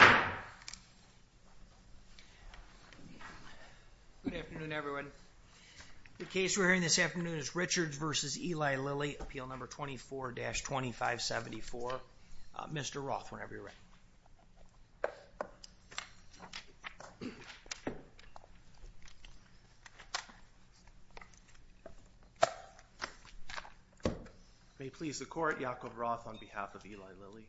Mr. Roth, whenever you're ready. May it please the Court, Yakov Roth on behalf of Eli Lilly.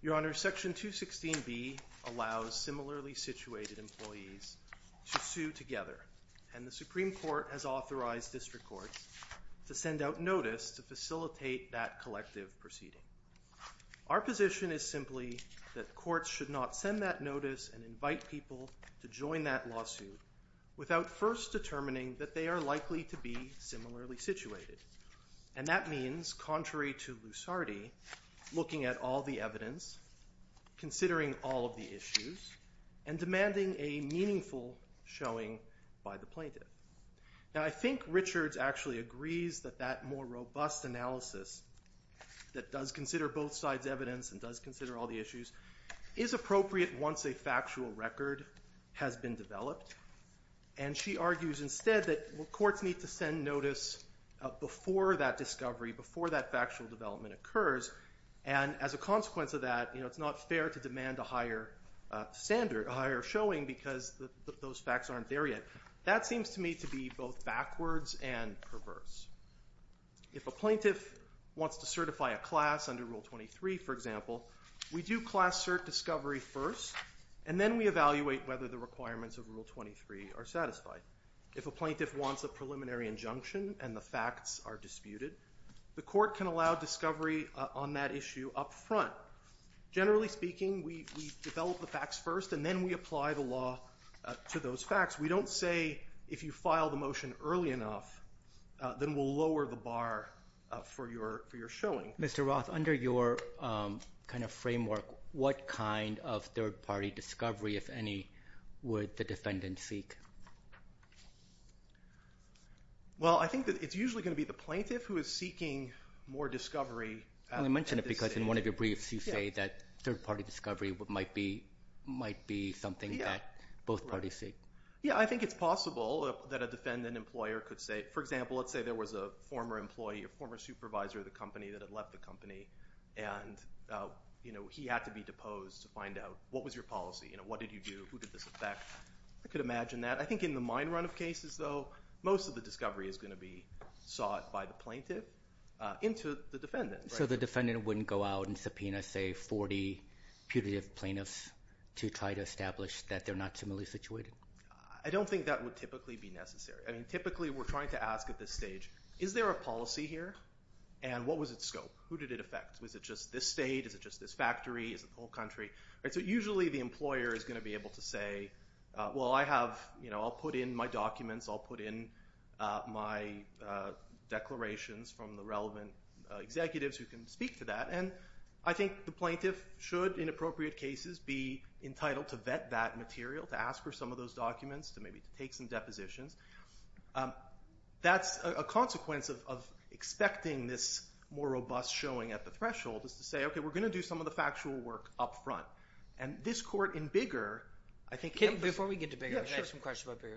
Your Honor, Section 216B allows similarly situated employees to sue together, and the Supreme Court has authorized district courts to send out notice to facilitate that collective proceeding. Our position is simply that courts should not send that notice and invite people to join that lawsuit without first determining that they are likely to be similarly situated. And that means, contrary to Lusardi, looking at all the evidence, considering all of the issues, and demanding a meaningful showing by the plaintiff. Now I think Richards actually agrees that that more robust analysis that does consider both sides' evidence and does consider all the issues is appropriate once a factual record has been developed. And she argues instead that courts need to send notice before that discovery, before that factual development occurs, and as a consequence of that, you know, it's not fair to demand a higher standard, a higher showing, because those facts aren't there yet. That seems to me to be both backwards and perverse. If a plaintiff wants to certify a class under Rule 23, for example, we do class cert discovery first, and then we evaluate whether the requirements of Rule 23 are satisfied. If a plaintiff wants a preliminary injunction and the facts are disputed, the court can allow discovery on that issue up front. Generally speaking, we develop the facts first, and then we apply the law to those facts. We don't say, if you file the motion early enough, then we'll lower the bar for your showing. Mr. Roth, under your kind of framework, what kind of third-party discovery, if any, would the defendant seek? Well, I think that it's usually going to be the plaintiff who is seeking more discovery. I only mention it because in one of your briefs you say that third-party discovery might be something that both parties seek. Yeah, I think it's possible that a defendant employer could say, for example, let's say there was a former employee, a former supervisor of the company that had left the company and he had to be deposed to find out what was your policy, what did you do, who did this affect? I could imagine that. I think in the mine run of cases, though, most of the discovery is going to be sought by the plaintiff into the defendant. So the defendant wouldn't go out and subpoena, say, 40 putative plaintiffs to try to establish that they're not similarly situated? I don't think that would typically be necessary. Typically, we're trying to ask at this stage, is there a policy here and what was its scope? Who did it affect? Was it just this state? Is it just this factory? Is it the whole country? So usually the employer is going to be able to say, well, I'll put in my documents, I'll put in my declarations from the relevant executives who can speak to that. I think the plaintiff should, in appropriate cases, be entitled to vet that material, to ask for some of those documents, to maybe take some depositions. That's a consequence of expecting this more robust showing at the threshold, is to say, OK, we're going to do some of the factual work up front. And this court in Bigger, I think- Before we get to Bigger, I have some questions about Bigger.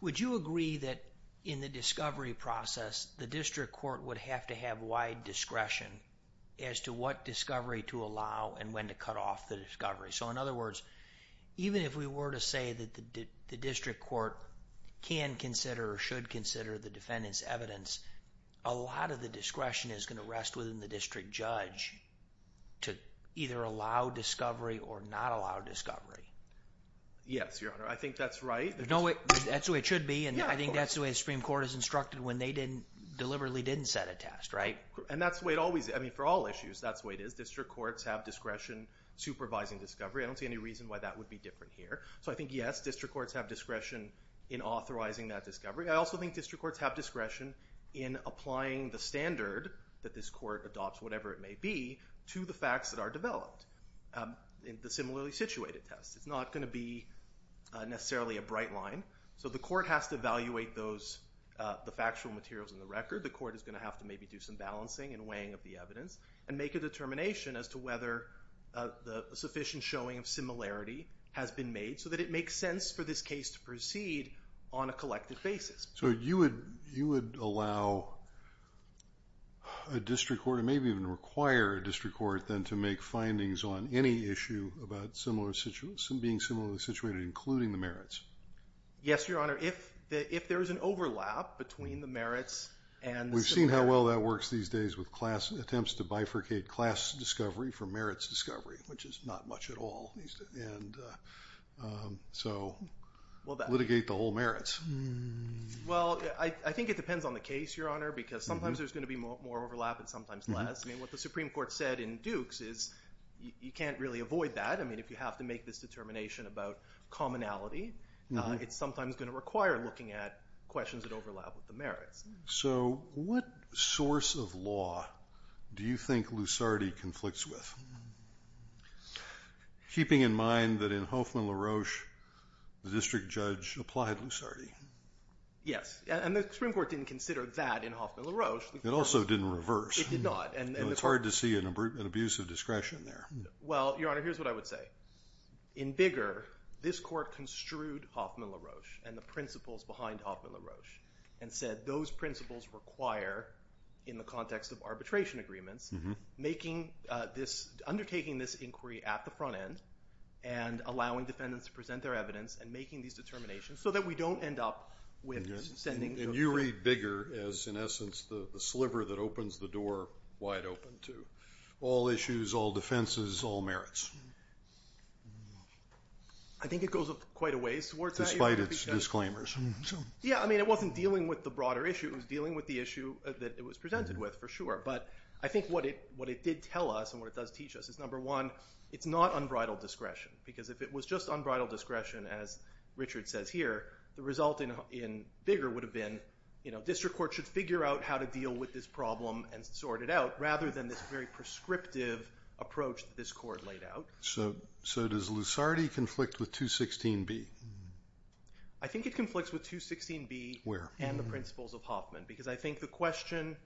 Would you agree that in the discovery process, the district court would have to have wide discretion as to what discovery to allow and when to cut off the discovery? So in other words, even if we were to say that the district court can consider or should consider the defendant's evidence, a lot of the discretion is going to rest within the district judge to either allow discovery or not allow discovery. Yes, Your Honor. I think that's right. There's no way- That's the way it should be. And I think that's the way the Supreme Court is instructed when they deliberately didn't set a test, right? And that's the way it always is. I mean, for all issues, that's the way it is. I think that district courts have discretion supervising discovery. I don't see any reason why that would be different here. So I think, yes, district courts have discretion in authorizing that discovery. I also think district courts have discretion in applying the standard that this court adopts, whatever it may be, to the facts that are developed in the similarly situated test. It's not going to be necessarily a bright line. So the court has to evaluate the factual materials in the record. The court is going to have to maybe do some balancing and weighing of the evidence and make a determination as to whether a sufficient showing of similarity has been made so that it makes sense for this case to proceed on a collective basis. So you would allow a district court, and maybe even require a district court, then to make findings on any issue about being similarly situated, including the merits? Yes, Your Honor. If there is an overlap between the merits and the similarity- Litigate class discovery for merits discovery, which is not much at all. So litigate the whole merits. Well, I think it depends on the case, Your Honor, because sometimes there's going to be more overlap and sometimes less. I mean, what the Supreme Court said in Dukes is you can't really avoid that. I mean, if you have to make this determination about commonality, it's sometimes going to require looking at questions that overlap with the merits. So what source of law do you think Lusardi conflicts with, keeping in mind that in Hoffman LaRoche, the district judge applied Lusardi? Yes, and the Supreme Court didn't consider that in Hoffman LaRoche. It also didn't reverse. It did not. And it's hard to see an abuse of discretion there. Well, Your Honor, here's what I would say. In Bigger, this court construed Hoffman LaRoche and the principles behind Hoffman LaRoche and said those principles require, in the context of arbitration agreements, undertaking this inquiry at the front end and allowing defendants to present their evidence and making these determinations so that we don't end up with this sending to a jury. And you read Bigger as, in essence, the sliver that opens the door wide open to all issues, all defenses, all merits. I think it goes quite a ways towards that. Despite its disclaimers. Yeah, I mean, it wasn't dealing with the broader issue. It was dealing with the issue that it was presented with, for sure. But I think what it did tell us and what it does teach us is, number one, it's not unbridled discretion. Because if it was just unbridled discretion, as Richard says here, the result in Bigger would have been, you know, district court should figure out how to deal with this problem and sort it out, rather than this very prescriptive approach that this court laid out. So does Lusardi conflict with 216B? I think it conflicts with 216B and the principles of Hoffman. Because I think the question,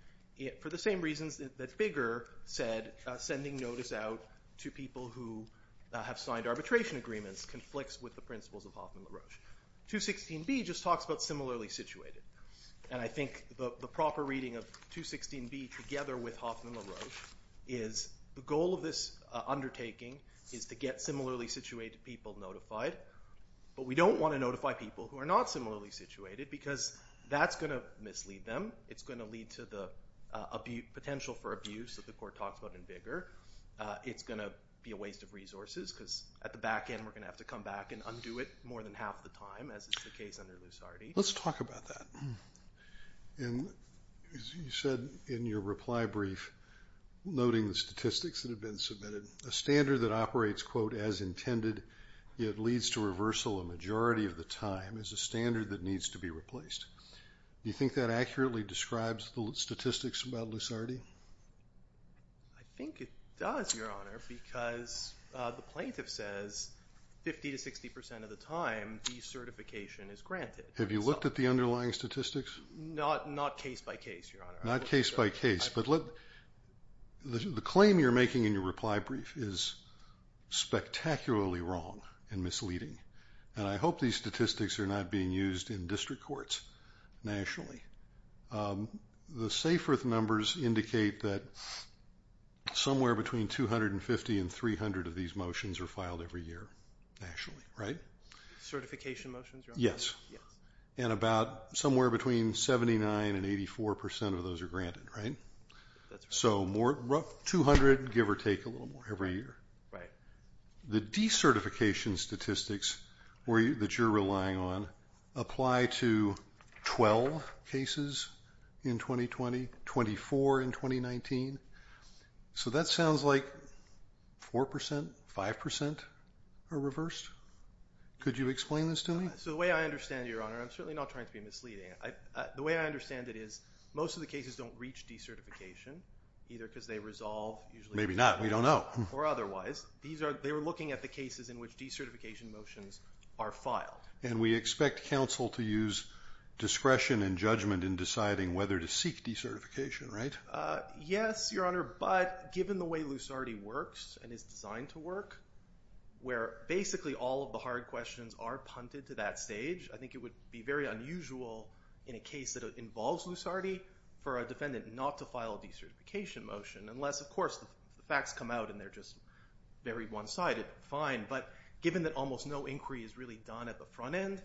for the same reasons that Bigger said, sending notice out to people who have signed arbitration agreements, conflicts with the principles of Hoffman-LaRoche. 216B just talks about similarly situated. And I think the proper reading of 216B together with Hoffman-LaRoche is the goal of this undertaking is to get similarly situated people notified. But we don't want to notify people who are not similarly situated, because that's going to mislead them. It's going to lead to the potential for abuse that the court talks about in Bigger. It's going to be a waste of resources, because at the back end, we're going to have to come back and undo it more than half the time, as is the case under Lusardi. Let's talk about that. And as you said in your reply brief, noting the statistics that have been submitted, a standard that operates, quote, as intended, yet leads to reversal a majority of the time is a standard that needs to be replaced. You think that accurately describes the statistics about Lusardi? I think it does, Your Honor, because the plaintiff says 50 to 60 percent of the time, decertification is granted. Have you looked at the underlying statistics? Not case by case, Your Honor. Not case by case. But the claim you're making in your reply brief is spectacularly wrong and misleading. And I hope these statistics are not being used in district courts nationally. The Saferth numbers indicate that somewhere between 250 and 300 of these motions are filed every year nationally, right? Certification motions, Your Honor? Yes. Yes. And about somewhere between 79 and 84 percent of those are granted, right? So more, 200, give or take a little more every year. The decertification statistics that you're relying on apply to 12 cases in 2020, 24 in 2019. So that sounds like 4 percent, 5 percent are reversed. Could you explain this to me? So the way I understand it, Your Honor, and I'm certainly not trying to be misleading, the way I understand it is most of the cases don't reach decertification, either because they resolve. Maybe not. We don't know. Or otherwise. They were looking at the cases in which decertification motions are filed. And we expect counsel to use discretion and judgment in deciding whether to seek decertification, right? Yes, Your Honor, but given the way Lusardi works and is designed to work, where basically all of the hard questions are punted to that stage, I think it would be very unusual in a case that involves Lusardi for a defendant not to file a decertification motion, unless of course the facts come out and they're just very one-sided, fine. But given that almost no inquiry is really done at the front end,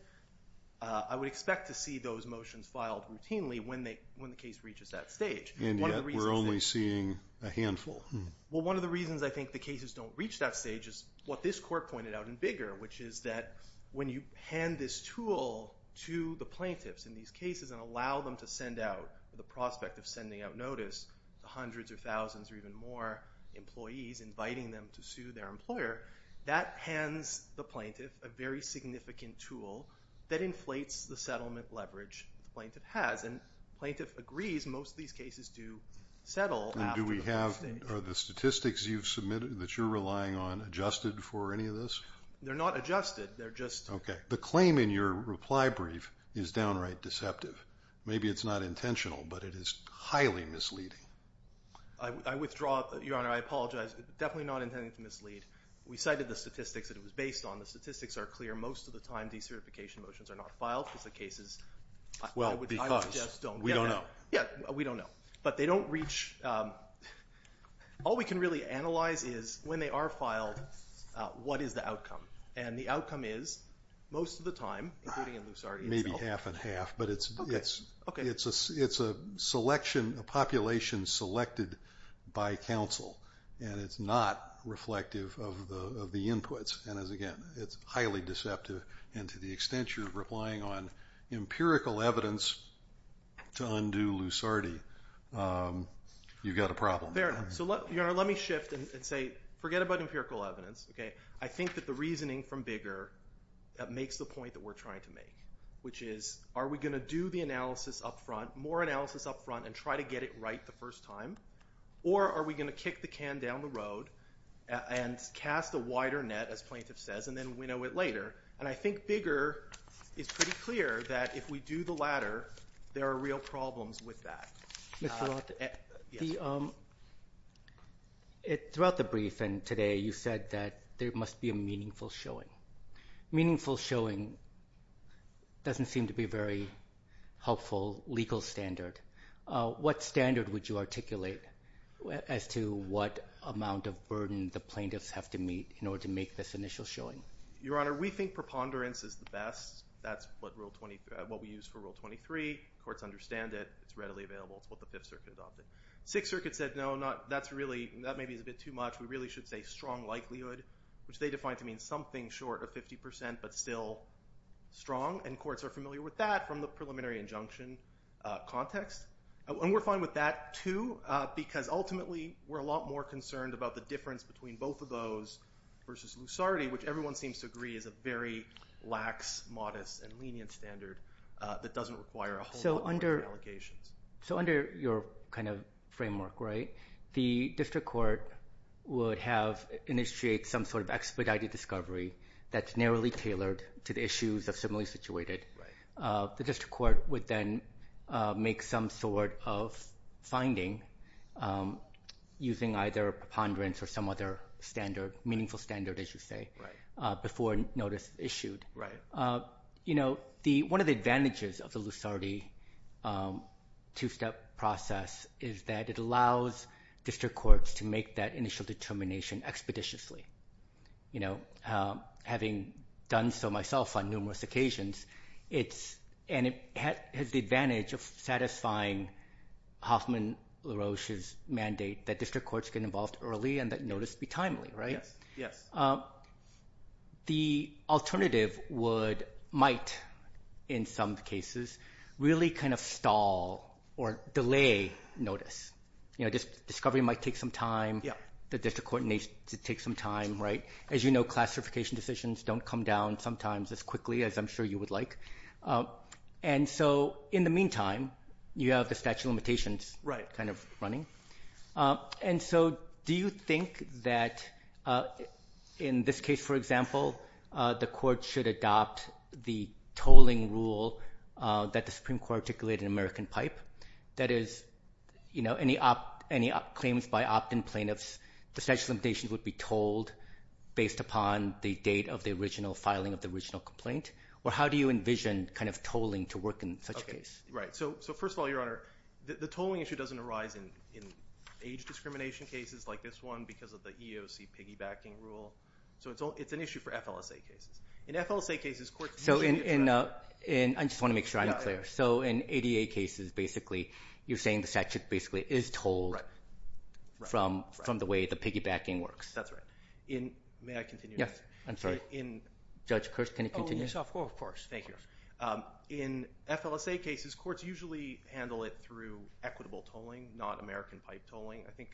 I would expect to see those motions filed routinely when the case reaches that stage. And yet, we're only seeing a handful. Well, one of the reasons I think the cases don't reach that stage is what this Court pointed out in Bigger, which is that when you hand this tool to the plaintiffs in these cases and allow them to send out, with the prospect of sending out notice, hundreds or thousands or even more employees inviting them to sue their employer, that hands the plaintiff a very significant tool that inflates the settlement leverage the plaintiff has. And the plaintiff agrees most of these cases do settle after the first stage. Are the statistics you've submitted that you're relying on adjusted for any of this? They're not adjusted. They're just... Okay. The claim in your reply brief is downright deceptive. Maybe it's not intentional, but it is highly misleading. I withdraw. Your Honor, I apologize. It's definitely not intended to mislead. We cited the statistics that it was based on. The statistics are clear. Most of the time, decertification motions are not filed because the cases... Well, because... I just don't... We don't know. Yeah. We don't know. But they don't reach... All we can really analyze is when they are filed, what is the outcome? And the outcome is, most of the time, including in Lusardi itself... Maybe half and half, but it's a selection, a population selected by counsel, and it's not reflective of the inputs, and as again, it's highly deceptive, and to the extent you're replying on empirical evidence to undo Lusardi, you've got a problem. Fair enough. So, Your Honor, let me shift and say, forget about empirical evidence, okay? I think that the reasoning from Bigger, that makes the point that we're trying to make, which is, are we going to do the analysis up front, more analysis up front, and try to get it right the first time, or are we going to kick the can down the road and cast a wider net, as plaintiff says, and then winnow it later? And I think Bigger is pretty clear that if we do the latter, there are real problems with that. Mr. Roth, throughout the briefing today, you said that there must be a meaningful showing. Meaningful showing doesn't seem to be a very helpful legal standard. What standard would you articulate as to what amount of burden the plaintiffs have to meet in order to make this initial showing? Your Honor, we think preponderance is the best. That's what we use for Rule 23. Courts understand it. It's readily available. It's what the Fifth Circuit adopted. Sixth Circuit said, no, that maybe is a bit too much. We really should say strong likelihood, which they define to mean something short of 50%, but still strong, and courts are familiar with that from the preliminary injunction context. And we're fine with that, too, because ultimately, we're a lot more concerned about the difference between both of those versus Lusarty, which everyone seems to agree is a very lax, modest, and lenient standard that doesn't require a whole lot more allegations. So under your framework, the district court would have initiated some sort of expedited discovery that's narrowly tailored to the issues of similarly situated. The district court would then make some sort of finding using either preponderance or some other standard, meaningful standard, as you say, before notice issued. One of the advantages of the Lusarty two-step process is that it allows district courts to make that initial determination expeditiously. Having done so myself on numerous occasions, it has the advantage of satisfying Hoffman LaRoche's mandate that district courts get involved early and that notice be timely. The alternative might, in some cases, really kind of stall or delay notice. Discovery might take some time. The district court needs to take some time. As you know, classification decisions don't come down sometimes as quickly as I'm sure you would like. In the meantime, you have the statute of limitations kind of running. Do you think that in this case, for example, the court should adopt the tolling rule that the Supreme Court articulated in American Pipe? That is, any claims by opt-in plaintiffs, the statute of limitations would be told based upon the date of the original filing of the original complaint? Or how do you envision kind of tolling to work in such a case? So first of all, Your Honor, the tolling issue doesn't arise in age discrimination cases like this one because of the EOC piggybacking rule. So it's an issue for FLSA cases. In FLSA cases, courts usually address it. I just want to make sure I'm clear. So in ADA cases, basically, you're saying the statute basically is told from the way the piggybacking works. That's right. May I continue? Yes. I'm sorry. Judge Kirsch, can you continue? Oh, yes. Of course. Thank you. In FLSA cases, courts usually handle it through equitable tolling, not American Pipe tolling. I think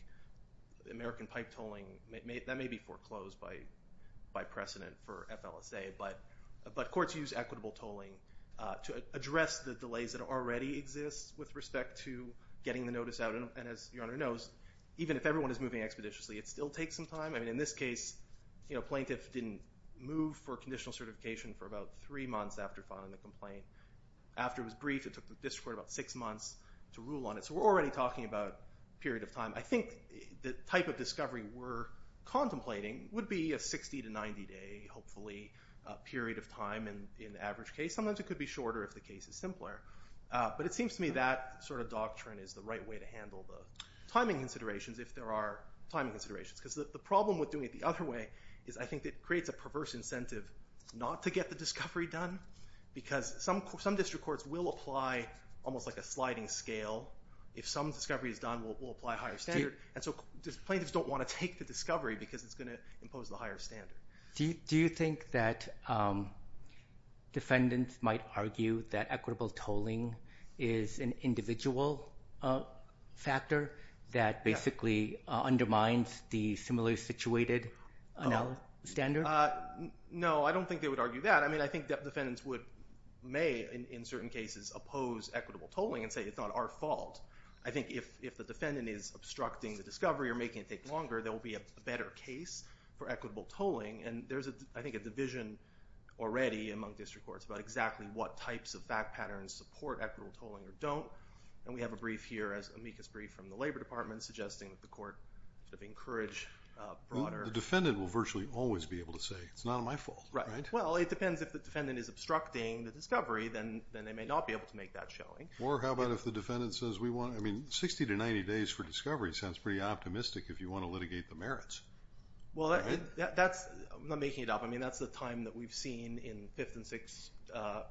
American Pipe tolling, that may be foreclosed by precedent for FLSA, but courts use equitable tolling to address the delays that already exist with respect to getting the notice out. And as Your Honor knows, even if everyone is moving expeditiously, it still takes some time. I mean, in this case, plaintiff didn't move for conditional certification for about three months after filing the complaint. After it was briefed, it took the district court about six months to rule on it. So we're already talking about period of time. I think the type of discovery we're contemplating would be a 60 to 90 day, hopefully, period of time in the average case. Sometimes it could be shorter if the case is simpler. But it seems to me that sort of doctrine is the right way to handle the timing considerations if there are timing considerations. Because the problem with doing it the other way is I think it creates a perverse incentive not to get the discovery done. Because some district courts will apply almost like a sliding scale. If some discovery is done, we'll apply a higher standard. And so plaintiffs don't want to take the discovery because it's going to impose the higher standard. Do you think that defendants might argue that equitable tolling is an individual factor that basically undermines the similarly situated standard? No, I don't think they would argue that. I mean, I think that defendants would, may in certain cases, oppose equitable tolling and say it's not our fault. I think if the defendant is obstructing the discovery or making it take longer, there will be a better case for equitable tolling. And there's, I think, a division already among district courts about exactly what types of back patterns support equitable tolling or don't. And we have a brief here as amicus brief from the Labor Department suggesting that the court should be encouraged broader. The defendant will virtually always be able to say it's not my fault, right? Well, it depends if the defendant is obstructing the discovery, then they may not be able to make that showing. Or how about if the defendant says we want, I mean, 60 to 90 days for discovery sounds pretty optimistic if you want to litigate the merits. Well, that's, I'm not making it up. I mean, that's the time that we've seen in Fifth and Sixth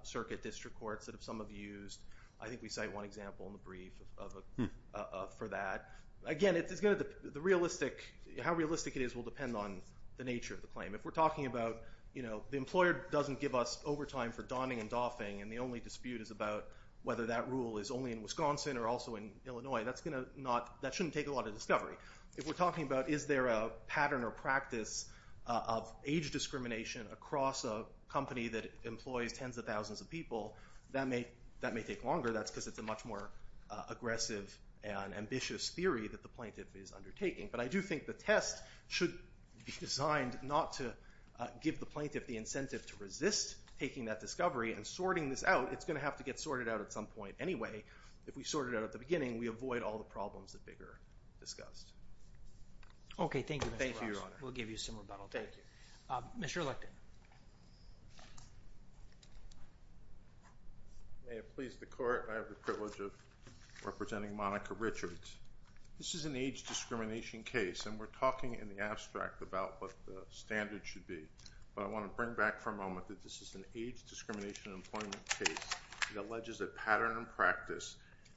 Circuit district courts that some have used. I think we cite one example in the brief for that. Again, it's going to, the realistic, how realistic it is will depend on the nature of the claim. If we're talking about, you know, the employer doesn't give us overtime for donning and doffing and the only dispute is about whether that rule is only in Wisconsin or also in Illinois, that's going to not, that shouldn't take a lot of discovery. If we're talking about is there a pattern or practice of age discrimination across a company that employs tens of thousands of people, that may, that may take longer. That's because it's a much more aggressive and ambitious theory that the plaintiff is undertaking. But I do think the test should be designed not to give the plaintiff the incentive to resist taking that discovery and sorting this out. It's going to have to get sorted out at some point anyway. If we sort it out at the beginning, we avoid all the problems that they've discussed. Okay. Thank you. Thank you, Your Honor. We'll give you some rebuttal. Thank you. Mr. Electon. May it please the court, I have the privilege of representing Monica Richards. This is an age discrimination case and we're talking in the abstract about what the standard should be. But I want to bring back for a moment that this is an age discrimination employment case. It alleges a pattern and practice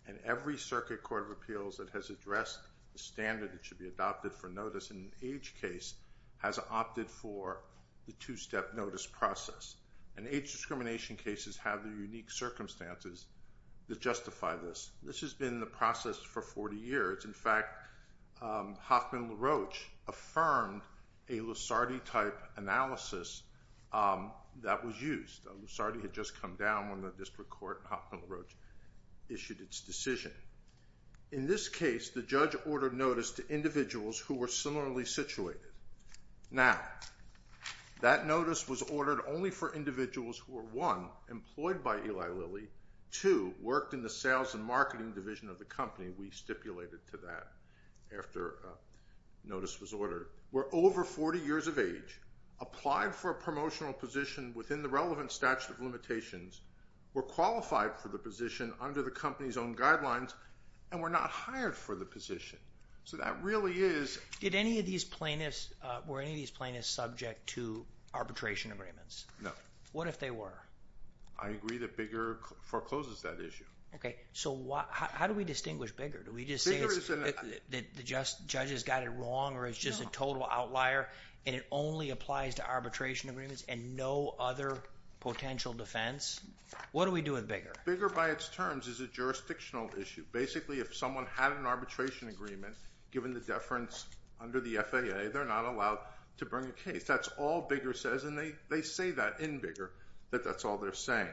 and every circuit court of appeals that has addressed the standard that should be adopted for notice in an age case has opted for the two-step notice process. And age discrimination cases have the unique circumstances that justify this. This has been the process for 40 years. In fact, Hoffman LaRoche affirmed a Lusardi-type analysis that was used. Lusardi had just come down when the district court, Hoffman LaRoche, issued its decision. In this case, the judge ordered notice to individuals who were similarly situated. Now, that notice was ordered only for individuals who were, one, employed by Eli Lilly, two, worked in the sales and marketing division of the company. We stipulated to that after notice was ordered, were over 40 years of age, applied for a promotional position within the relevant statute of limitations, were qualified for the position under the company's own guidelines, and were not hired for the position. So that really is- Did any of these plaintiffs, were any of these plaintiffs subject to arbitration agreements? No. What if they were? I agree that Bigger forecloses that issue. Okay. So how do we distinguish Bigger? Do we just say the judge has got it wrong or it's just a total outlier and it only applies to arbitration agreements and no other potential defense? What do we do with Bigger? Bigger, by its terms, is a jurisdictional issue. Basically, if someone had an arbitration agreement, given the deference under the FAA, they're not allowed to bring a case. That's all Bigger says, and they say that in Bigger, that that's all they're saying.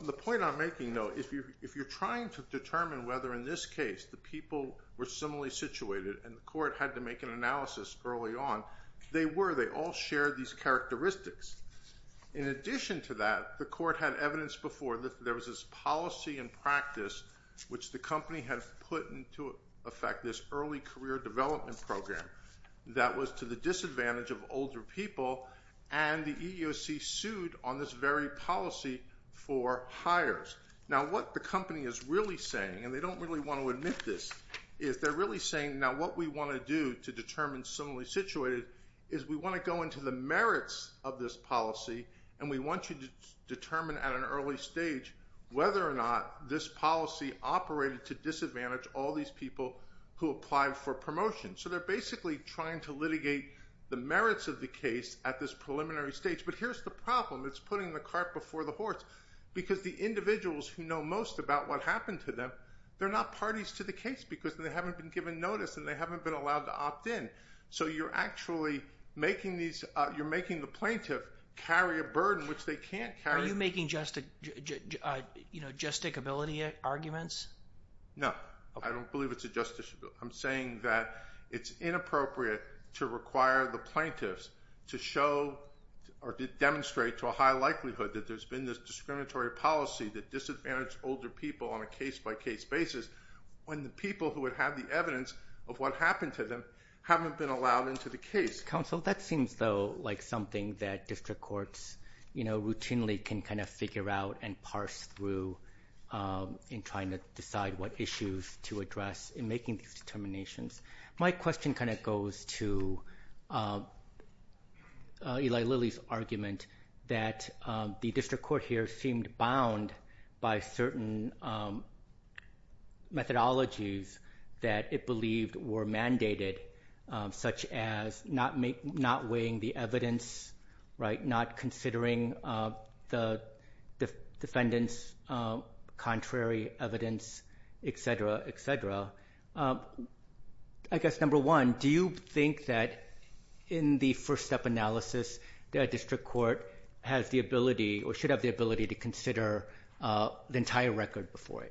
The point I'm making, though, if you're trying to determine whether in this case the people were similarly situated and the court had to make an analysis early on, they were. They all shared these characteristics. In addition to that, the court had evidence before that there was this policy and practice which the company had put into effect this early career development program that was to the disadvantage of older people, and the EEOC sued on this very policy for hires. Now, what the company is really saying, and they don't really want to admit this, is they're really saying, now, what we want to do to determine similarly situated is we want to go into the merits of this policy, and we want you to determine at an early stage whether or not this policy operated to disadvantage all these people who applied for promotion. So they're basically trying to litigate the merits of the case at this preliminary stage. But here's the problem. It's putting the cart before the horse, because the individuals who know most about what happened to them, they're not parties to the case because they haven't been given notice and they haven't been allowed to opt in. So you're actually making the plaintiff carry a burden which they can't carry. Are you making justicability arguments? No. I don't believe it's a justicability. I'm saying that it's inappropriate to require the plaintiffs to show or to demonstrate to a high likelihood that there's been this discriminatory policy that disadvantaged older people on a case-by-case basis when the people who would have the evidence of what happened to them haven't been allowed into the case. That seems, though, like something that district courts routinely can figure out and parse through in trying to decide what issues to address in making these determinations. My question goes to Eli Lilly's argument that the district court here seemed bound by certain methodologies that it believed were mandated, such as not weighing the evidence, not considering the defendant's contrary evidence, et cetera, et cetera. I guess, number one, do you think that in the first-step analysis that a district court has the ability or should have the ability to consider the entire record before it,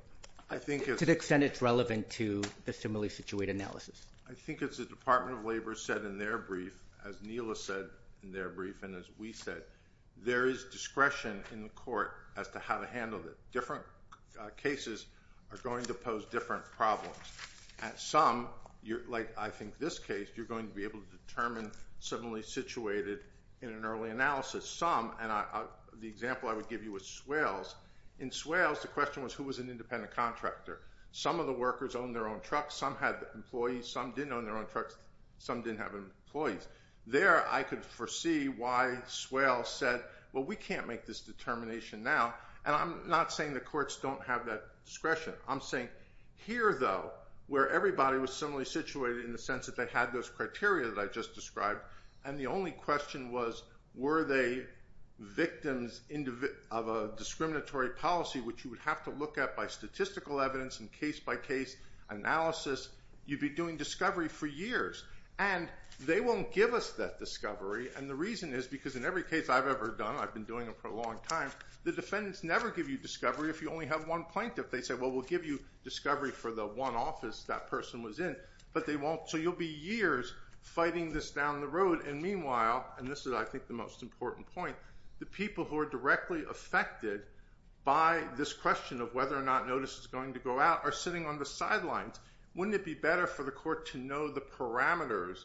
to the extent it's relevant to the similarly situated analysis? I think it's the Department of Labor said in their brief, as Neela said in their brief, and as we said, there is discretion in the court as to how to handle it. Different cases are going to pose different problems. Some, like I think this case, you're going to be able to determine similarly situated in an early analysis. And the example I would give you is Swales. In Swales, the question was, who was an independent contractor? Some of the workers owned their own trucks. Some had employees. Some didn't own their own trucks. Some didn't have employees. There, I could foresee why Swales said, well, we can't make this determination now. And I'm not saying the courts don't have that discretion. I'm saying here, though, where everybody was similarly situated in the sense that they had those criteria that I just described. And the only question was, were they victims of a discriminatory policy, which you would have to look at by statistical evidence and case-by-case analysis? You'd be doing discovery for years. And they won't give us that discovery. And the reason is because in every case I've ever done, I've been doing it for a long time, the defendants never give you discovery if you only have one plaintiff. They say, well, we'll give you discovery for the one office that person was in. But they won't. So you'll be years fighting this down the road. And meanwhile, and this is, I think, the most important point, the people who are directly affected by this question of whether or not notice is going to go out are sitting on the sidelines. Wouldn't it be better for the court to know the parameters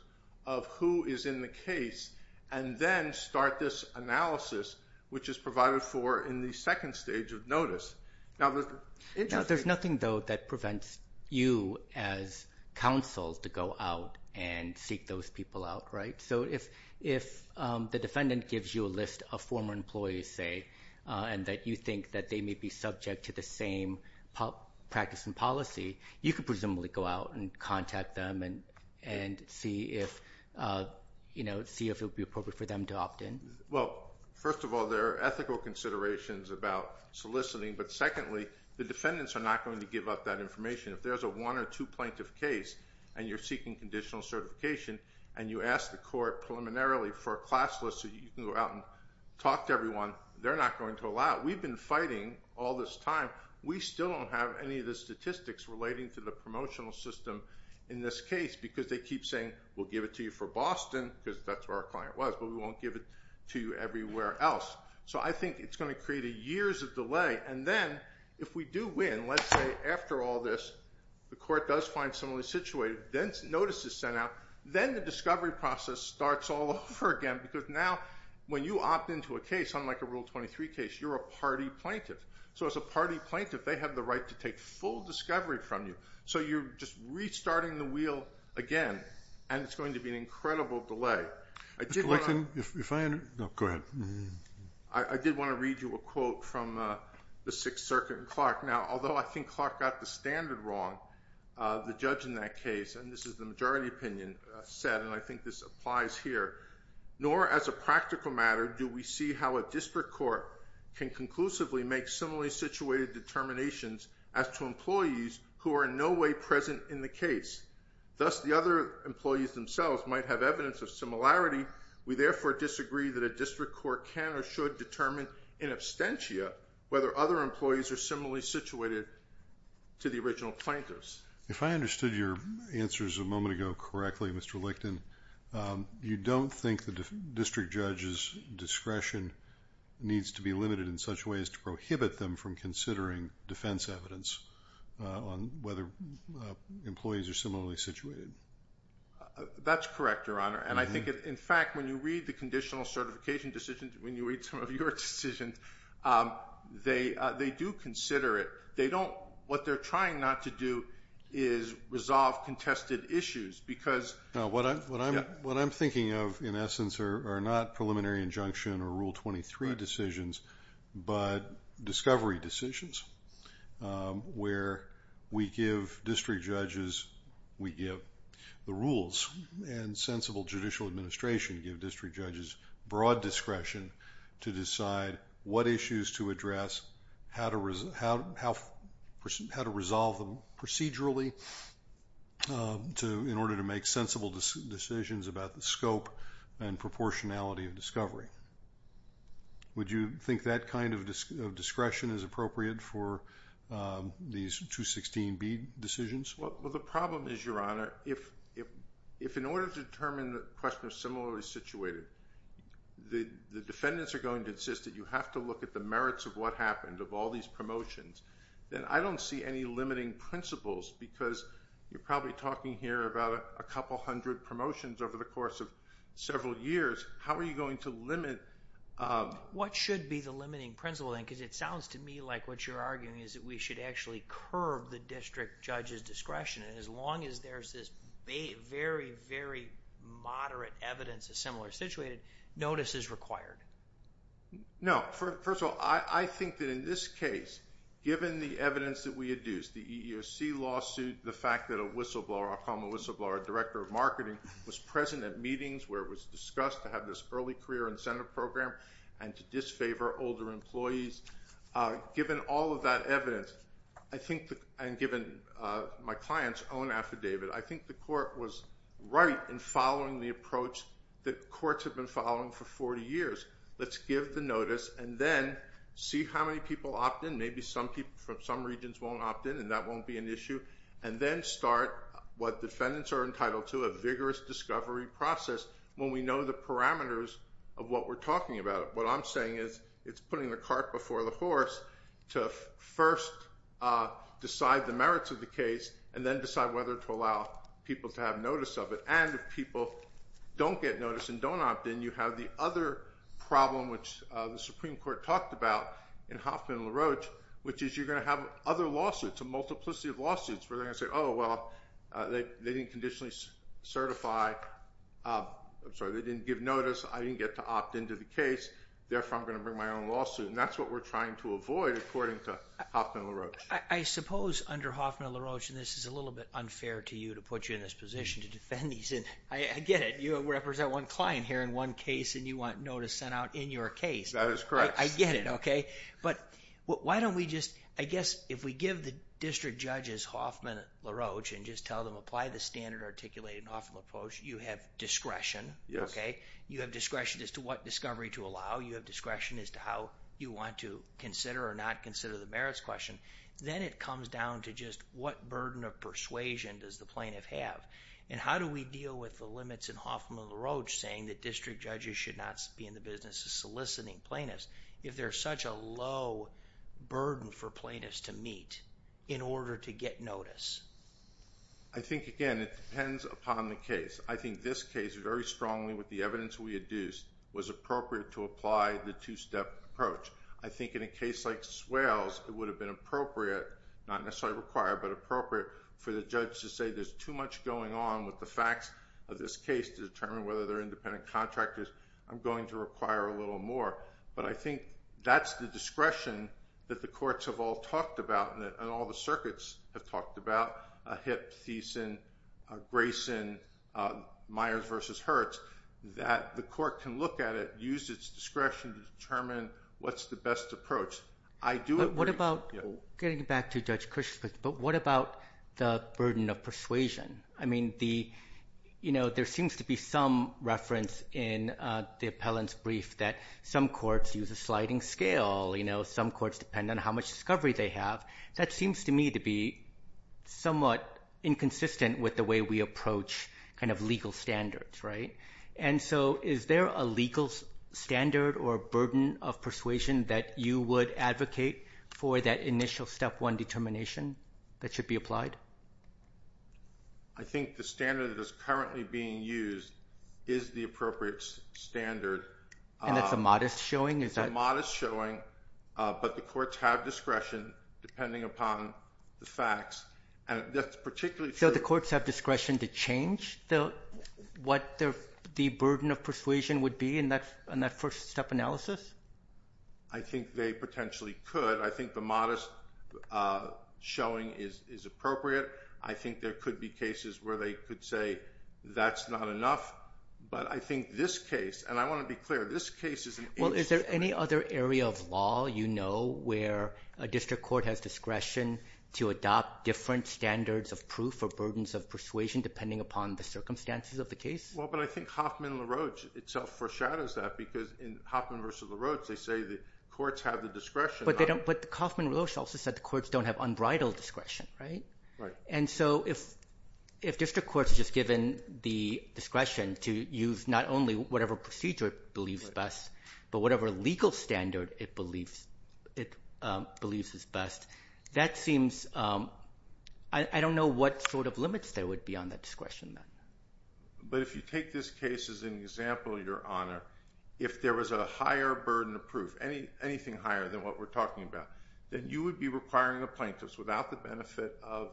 of who is in the case and then start this analysis, which is provided for in the second stage of notice? Now, there's nothing, though, that prevents you as counsel to go out and seek those people out, right? So if the defendant gives you a list of former employees, say, and that you think that they may be subject to the same practice and policy, you could presumably go out and contact them and see if it would be appropriate for them to opt in. Well, first of all, there are ethical considerations about soliciting. But secondly, the defendants are not going to give up that information. If there's a one or two plaintiff case and you're seeking conditional certification and you ask the court preliminarily for a class list so you can go out and talk to everyone, they're not going to allow it. We've been fighting all this time. We still don't have any of the statistics relating to the promotional system in this case because they keep saying, we'll give it to you for Boston because that's where our client was, but we won't give it to you everywhere else. So I think it's going to create years of delay. And then if we do win, let's say after all this, the court does find someone situated, notice is sent out, then the discovery process starts all over again. Because now when you opt into a case, unlike a Rule 23 case, you're a party plaintiff. So as a party plaintiff, they have the right to take full discovery from you. So you're just restarting the wheel again. And it's going to be an incredible delay. I did want to read you a quote from the Sixth Circuit in Clark. Now, although I think Clark got the standard wrong, the judge in that case, and this is the majority opinion, said, and I think this applies here, nor as a practical matter do we see how a district court can conclusively make similarly situated determinations as to employees who are in no way present in the case. Thus, the other employees themselves might have evidence of similarity. We therefore disagree that a district court can or should determine in absentia whether other employees are similarly situated to the original plaintiffs. If I understood your answers a moment ago correctly, Mr. Lichten, you don't think the district judge's discretion needs to be limited in such a way as to prohibit them from considering defense evidence on whether employees are similarly situated? That's correct, Your Honor. And I think, in fact, when you read the conditional certification decisions, when you read some of your decisions, they do consider it. What they're trying not to do is resolve contested issues. Now, what I'm thinking of, in essence, are not preliminary injunction or Rule 23 decisions, but discovery decisions where we give district judges, we give the rules, and sensible judicial administration give district judges broad discretion to decide what issues to address, how to resolve them procedurally in order to make sensible decisions about the scope and proportionality of discovery. Would you think that kind of discretion is appropriate for these 216B decisions? Well, the problem is, Your Honor, if in order to determine the question of similarly situated, the defendants are going to insist that you have to look at the merits of what happened, of all these promotions, then I don't see any limiting principles because you're probably talking here about a couple hundred promotions over the course of several years. How are you going to limit... What should be the limiting principle then? Because it sounds to me like what you're arguing is that we should actually curve the district judge's discretion. As long as there's this very, very moderate evidence of similar situated, notice is required. No. First of all, I think that in this case, given the evidence that we had used, the EEOC lawsuit, the fact that a whistleblower, I'll call him a whistleblower, director of marketing, was present at meetings where it was discussed to have this early career incentive program and to disfavor older employees. Given all of that evidence and given my client's own affidavit, I think the court was right in following the approach that courts have been following for 40 years. Let's give the notice and then see how many people opt in. Maybe some people from some regions won't opt in, and that won't be an issue, and then start what defendants are entitled to, a vigorous discovery process, when we know the parameters of what we're talking about. What I'm saying is it's putting the cart before the horse to first decide the merits of the case and then decide whether to allow people to have notice of it. And if people don't get notice and don't opt in, you have the other problem, which the Supreme Court talked about in Hoffman and LaRoche, which is you're going to have other lawsuits, a multiplicity of lawsuits, where they're going to say, oh, well, they didn't conditionally certify. I'm sorry. They didn't give notice. I didn't get to opt into the case. Therefore, I'm going to bring my own lawsuit. That's what we're trying to avoid, according to Hoffman and LaRoche. I suppose under Hoffman and LaRoche, and this is a little bit unfair to you to put you in this position to defend these, and I get it. You represent one client here in one case, and you want notice sent out in your case. That is correct. I get it, okay? But why don't we just, I guess, if we give the district judges Hoffman and LaRoche, and just tell them apply the standard articulated in Hoffman and LaRoche, you have discretion, okay? You have discretion as to what discovery to allow. You have discretion as to how you want to consider or not consider the merits question. Then it comes down to just what burden of persuasion does the plaintiff have? And how do we deal with the limits in Hoffman and LaRoche saying that district judges should not be in the business of soliciting plaintiffs? If there's such a low burden for plaintiffs to meet in order to get notice? I think, again, it depends upon the case. I think this case, very strongly with the evidence we had used, was appropriate to apply the two-step approach. I think in a case like Swales, it would have been appropriate, not necessarily required, but appropriate for the judge to say there's too much going on with the facts of this case to determine whether they're independent contractors. I'm going to require a little more. But I think that's the discretion that the courts have all talked about and all the circuits have talked about, Hipp, Thiessen, Grayson, Myers versus Hertz, that the court can look at it, use its discretion to determine what's the best approach. I do agree. What about, getting back to Judge Cush's question, but what about the burden of persuasion? I mean, there seems to be some reference in the appellant's brief that some courts use a sliding scale, some courts depend on how much discovery they have. That seems to me to be somewhat inconsistent with the way we approach legal standards, right? And so is there a legal standard or a burden of persuasion that you would advocate for that initial step one determination that should be applied? I think the standard that is currently being used is the appropriate standard. And that's a modest showing? It's a modest showing, but the courts have discretion depending upon the facts. And that's particularly true- So the courts have discretion to change what the burden of persuasion would be in that first step analysis? I think they potentially could. I think the modest showing is appropriate. I think there could be cases where they could say that's not enough. But I think this case, and I want to be clear, this case is an- Well, is there any other area of law you know where a district court has discretion to adopt different standards of proof or burdens of persuasion depending upon the circumstances of the case? Well, but I think Hoffman-LaRoche itself foreshadows that because in Hoffman versus LaRoche, they say the courts have the discretion- But they don't, but Hoffman-LaRoche also said the courts don't have unbridled discretion, right? And so if district courts are just given the discretion to use not only whatever procedure it believes best, but whatever legal standard it believes is best, that seems- I don't know what sort of limits there would be on that discretion then. But if you take this case as an example, Your Honor, if there was a higher burden of proof, anything higher than what we're talking about, then you would be requiring the plaintiffs without the benefit of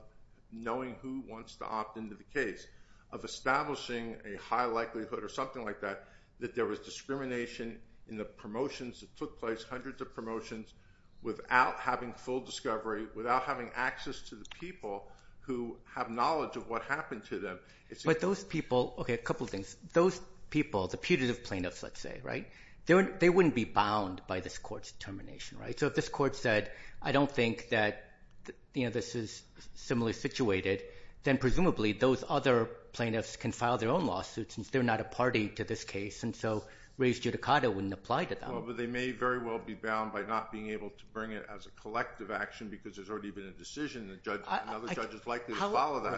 knowing who wants to opt into the case, of establishing a high likelihood or something like that, that there was discrimination in the promotions that took place, hundreds of promotions, without having full discovery, without having access to the people who have knowledge of what happened to them, it's- But those people, okay, a couple of things. Those people, the putative plaintiffs, let's say, right? They wouldn't be bound by this court's determination, right? If this court said, I don't think that this is similarly situated, then presumably those other plaintiffs can file their own lawsuits, since they're not a party to this case. And so res judicata wouldn't apply to them. Well, but they may very well be bound by not being able to bring it as a collective action, because there's already been a decision, and another judge is likely to follow that.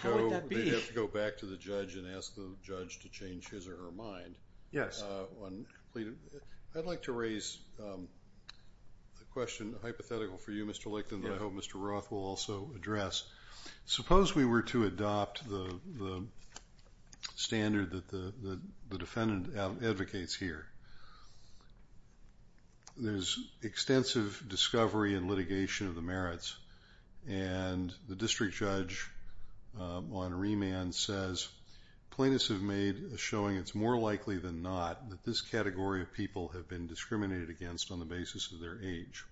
How would that be? They'd have to go back to the judge and ask the judge to change his or her mind. Yes. I'd like to raise a question, a hypothetical for you, Mr. Lickton, that I hope Mr. Roth will also address. Suppose we were to adopt the standard that the defendant advocates here. There's extensive discovery and litigation of the merits, and the district judge on remand says, plaintiffs have made a showing it's more likely than not that this category of people have been discriminated against on the basis of their age.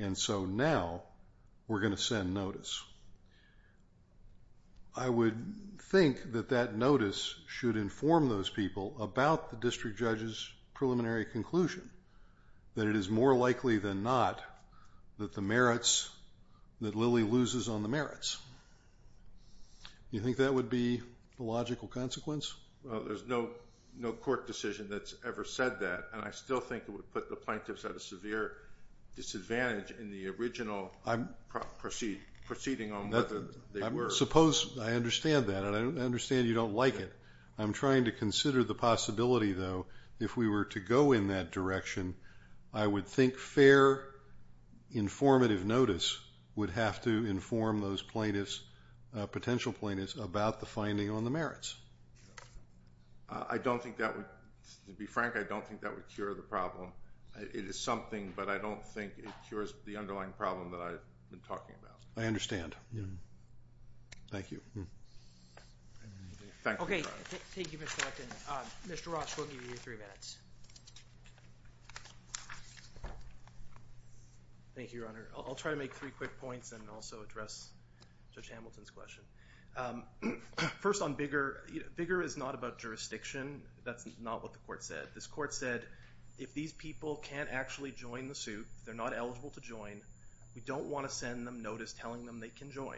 And so now we're going to send notice. I would think that that notice should inform those people about the district judge's preliminary conclusion, that it is more likely than not that the merits, that Lilly loses on the merits. Do you think that would be the logical consequence? Well, there's no court decision that's ever said that, and I still think it would put the plaintiffs at a severe disadvantage in the original proceeding on whether they were. Suppose, I understand that, and I understand you don't like it. I'm trying to consider the possibility, though, if we were to go in that direction, I would think fair, informative notice would have to inform those plaintiffs, potential plaintiffs, about the finding on the merits. I don't think that would, to be frank, I don't think that would cure the problem. It is something, but I don't think it cures the underlying problem that I've been talking about. I understand. Thank you. Okay. Thank you, Mr. Acton. Mr. Ross, we'll give you three minutes. Thank you, Your Honor. I'll try to make three quick points and also address Judge Hamilton's question. First on Bigger, Bigger is not about jurisdiction. That's not what the court said. This court said, if these people can't actually join the suit, they're not eligible to join, we don't want to send them notice telling them they can join,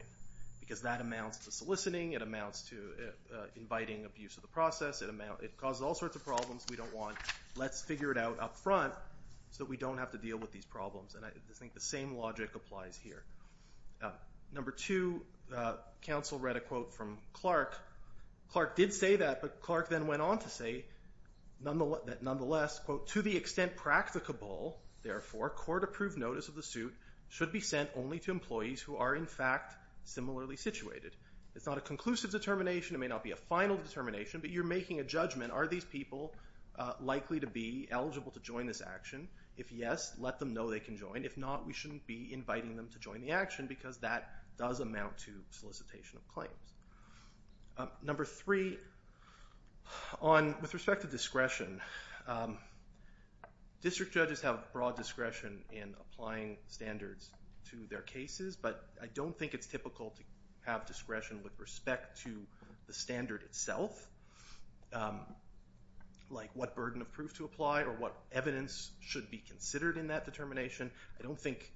because that amounts to soliciting, it amounts to inviting abuse of the process, it causes all sorts of problems we don't want. Let's figure it out up front so we don't have to deal with these problems. And I think the same logic applies here. Number two, counsel read a quote from Clark. Clark did say that, but Clark then went on to say, nonetheless, quote, to the extent practicable, therefore, court approved notice of the suit should be sent only to employees who are, in fact, similarly situated. It's not a conclusive determination. It may not be a final determination, but you're making a judgment. Are these people likely to be eligible to join this action? If yes, let them know they can join. If not, we shouldn't be inviting them to join the action, because that does amount to solicitation of claims. Number three, with respect to discretion, district judges have broad discretion in applying standards to their cases, but I don't think it's typical to have discretion with respect to the standard itself. Like what burden of proof to apply or what evidence should be considered in that determination. I don't think,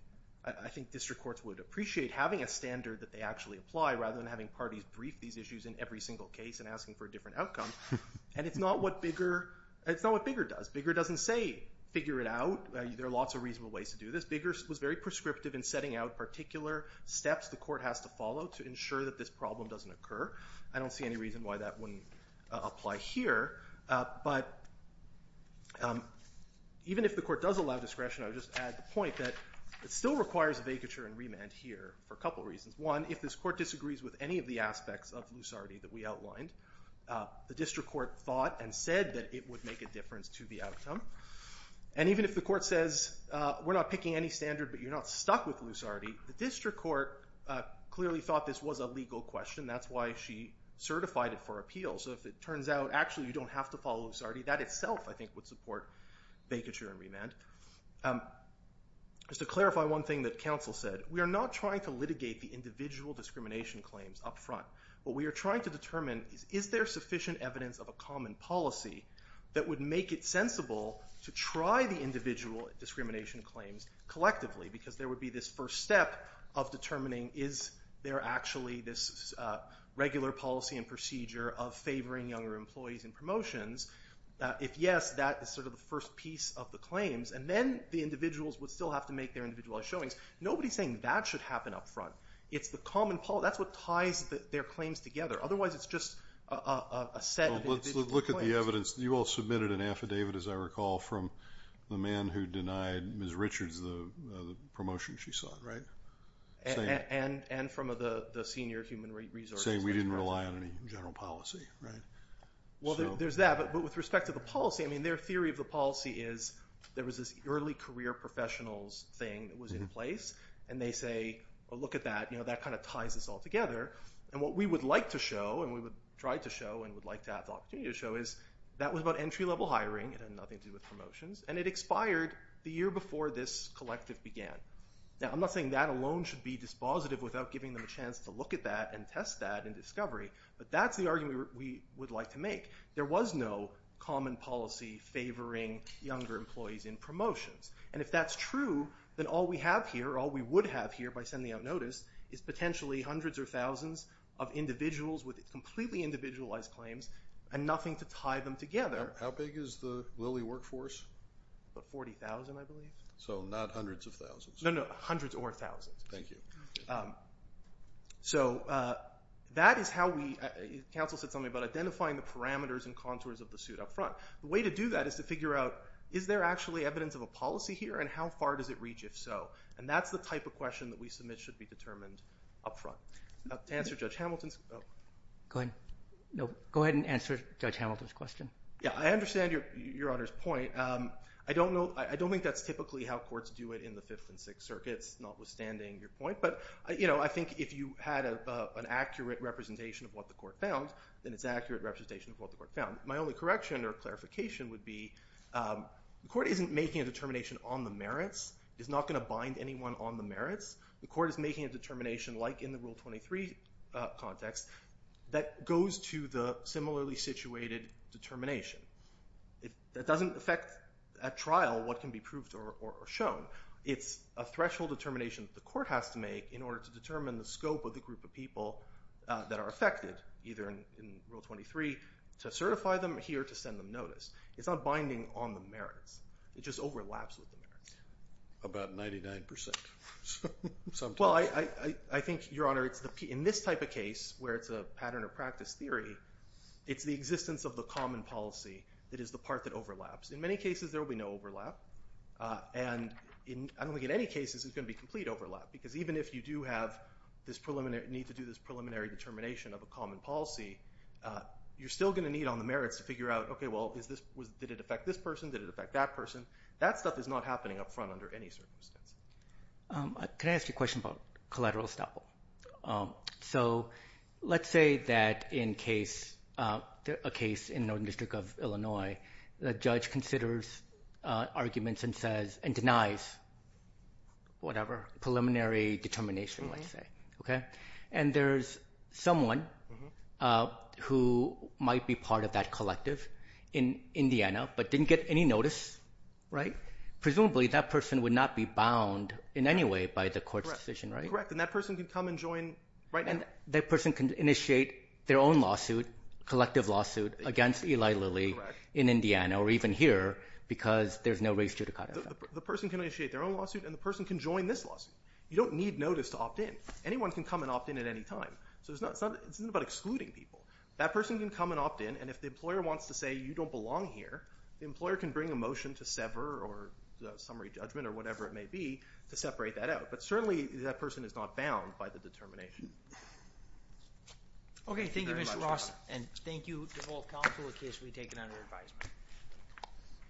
I think district courts would appreciate having a standard that they actually apply rather than having parties brief these issues in every single case and asking for a different outcome. And it's not what Bigger, it's not what Bigger does. Bigger doesn't say, figure it out. There are lots of reasonable ways to do this. Bigger was very prescriptive in setting out particular steps the court has to follow to ensure that this problem doesn't occur. I don't see any reason why that wouldn't apply here. But even if the court does allow discretion, I would just add the point that it still requires a vacature and remand here for a couple reasons. One, if this court disagrees with any of the aspects of lucidity that we outlined, the district court thought and said that it would make a difference to the outcome. And even if the court says, we're not picking any standard, but you're not stuck with lucidity, the district court clearly thought this was a legal question. That's why she certified it for appeal. So if it turns out, actually, you don't have to follow lucidity, that itself, I think, would support vacature and remand. Just to clarify one thing that counsel said, we are not trying to litigate the individual discrimination claims up front. What we are trying to determine is, is there sufficient evidence of a common policy that would make it sensible to try the individual discrimination claims collectively? Because there would be this first step of determining, is there actually this regular policy and procedure of favoring younger employees in promotions? If yes, that is sort of the first piece of the claims. And then the individuals would still have to make their individualized showings. Nobody is saying that should happen up front. It's the common policy. That's what ties their claims together. Otherwise, it's just a set of individual claims. Well, let's look at the evidence. You all submitted an affidavit, as I recall, from the man who denied Ms. Richards the promotion she sought, right? And from the senior human resources. Saying we didn't rely on any general policy, right? Well, there's that. But with respect to the policy, I mean, their theory of the policy is there was this early career professionals thing that was in place. And they say, well, look at that. That kind of ties us all together. And what we would like to show, and we would try to show, and would like to have the opportunity to show, is that was about entry-level hiring. It had nothing to do with promotions. And it expired the year before this collective began. Now, I'm not saying that alone should be dispositive without giving them a chance to look at that and test that and discovery. But that's the argument we would like to make. There was no common policy favoring younger employees in promotions. And if that's true, then all we have here, all we would have here by sending out notice, is potentially hundreds or thousands of individuals with completely individualized claims and nothing to tie them together. How big is the Lilly workforce? About 40,000, I believe. So not hundreds of thousands? No, no. Hundreds or thousands. Thank you. So that is how we, counsel said something about identifying the parameters and contours of the suit up front. The way to do that is to figure out, is there actually evidence of a policy here? And how far does it reach, if so? And that's the type of question that we submit should be determined up front. To answer Judge Hamilton's, oh. Go ahead. No, go ahead and answer Judge Hamilton's question. Yeah, I understand Your Honor's point. I don't think that's typically how courts do it in the Fifth and Sixth Circuits, notwithstanding your point. But I think if you had an accurate representation of what the court found, then it's an accurate representation of what the court found. My only correction or clarification would be, the court isn't making a determination on the merits. It's not going to bind anyone on the merits. The court is making a determination, like in the Rule 23 context, that goes to the similarly situated determination. That doesn't affect, at trial, what can be proved or shown. It's a threshold determination that the court has to make in order to determine the scope of the group of people that are affected, either in Rule 23, to certify them here to send them notice. It's not binding on the merits. It just overlaps with the merits. About 99% sometimes. I think, Your Honor, in this type of case, where it's a pattern or practice theory, it's the existence of the common policy that is the part that overlaps. In many cases, there will be no overlap. And I don't think in any cases it's going to be complete overlap. Because even if you do have this preliminary need to do this preliminary determination of a common policy, you're still going to need on the merits to figure out, OK, well, did it affect this person? Did it affect that person? That stuff is not happening up front under any circumstances. Can I ask you a question about collateral estoppel? So let's say that in a case in Northern District of Illinois, the judge considers arguments and denies whatever preliminary determination, let's say. OK? And there's someone who might be part of that collective in Indiana but didn't get any notice, right? Presumably, that person would not be bound in any way by the court's decision, right? And that person can come and join right now. That person can initiate their own lawsuit, collective lawsuit, against Eli Lilly in Indiana or even here because there's no race judicata. The person can initiate their own lawsuit and the person can join this lawsuit. You don't need notice to opt in. Anyone can come and opt in at any time. So it's not about excluding people. That person can come and opt in. And if the employer wants to say, you don't belong here, the employer can bring a motion to sever or the summary judgment or whatever it may be to separate that out. But certainly, that person is not bound by the determination. OK, thank you, Mr. Ross. And thank you to all counsel in case we take it under advisement.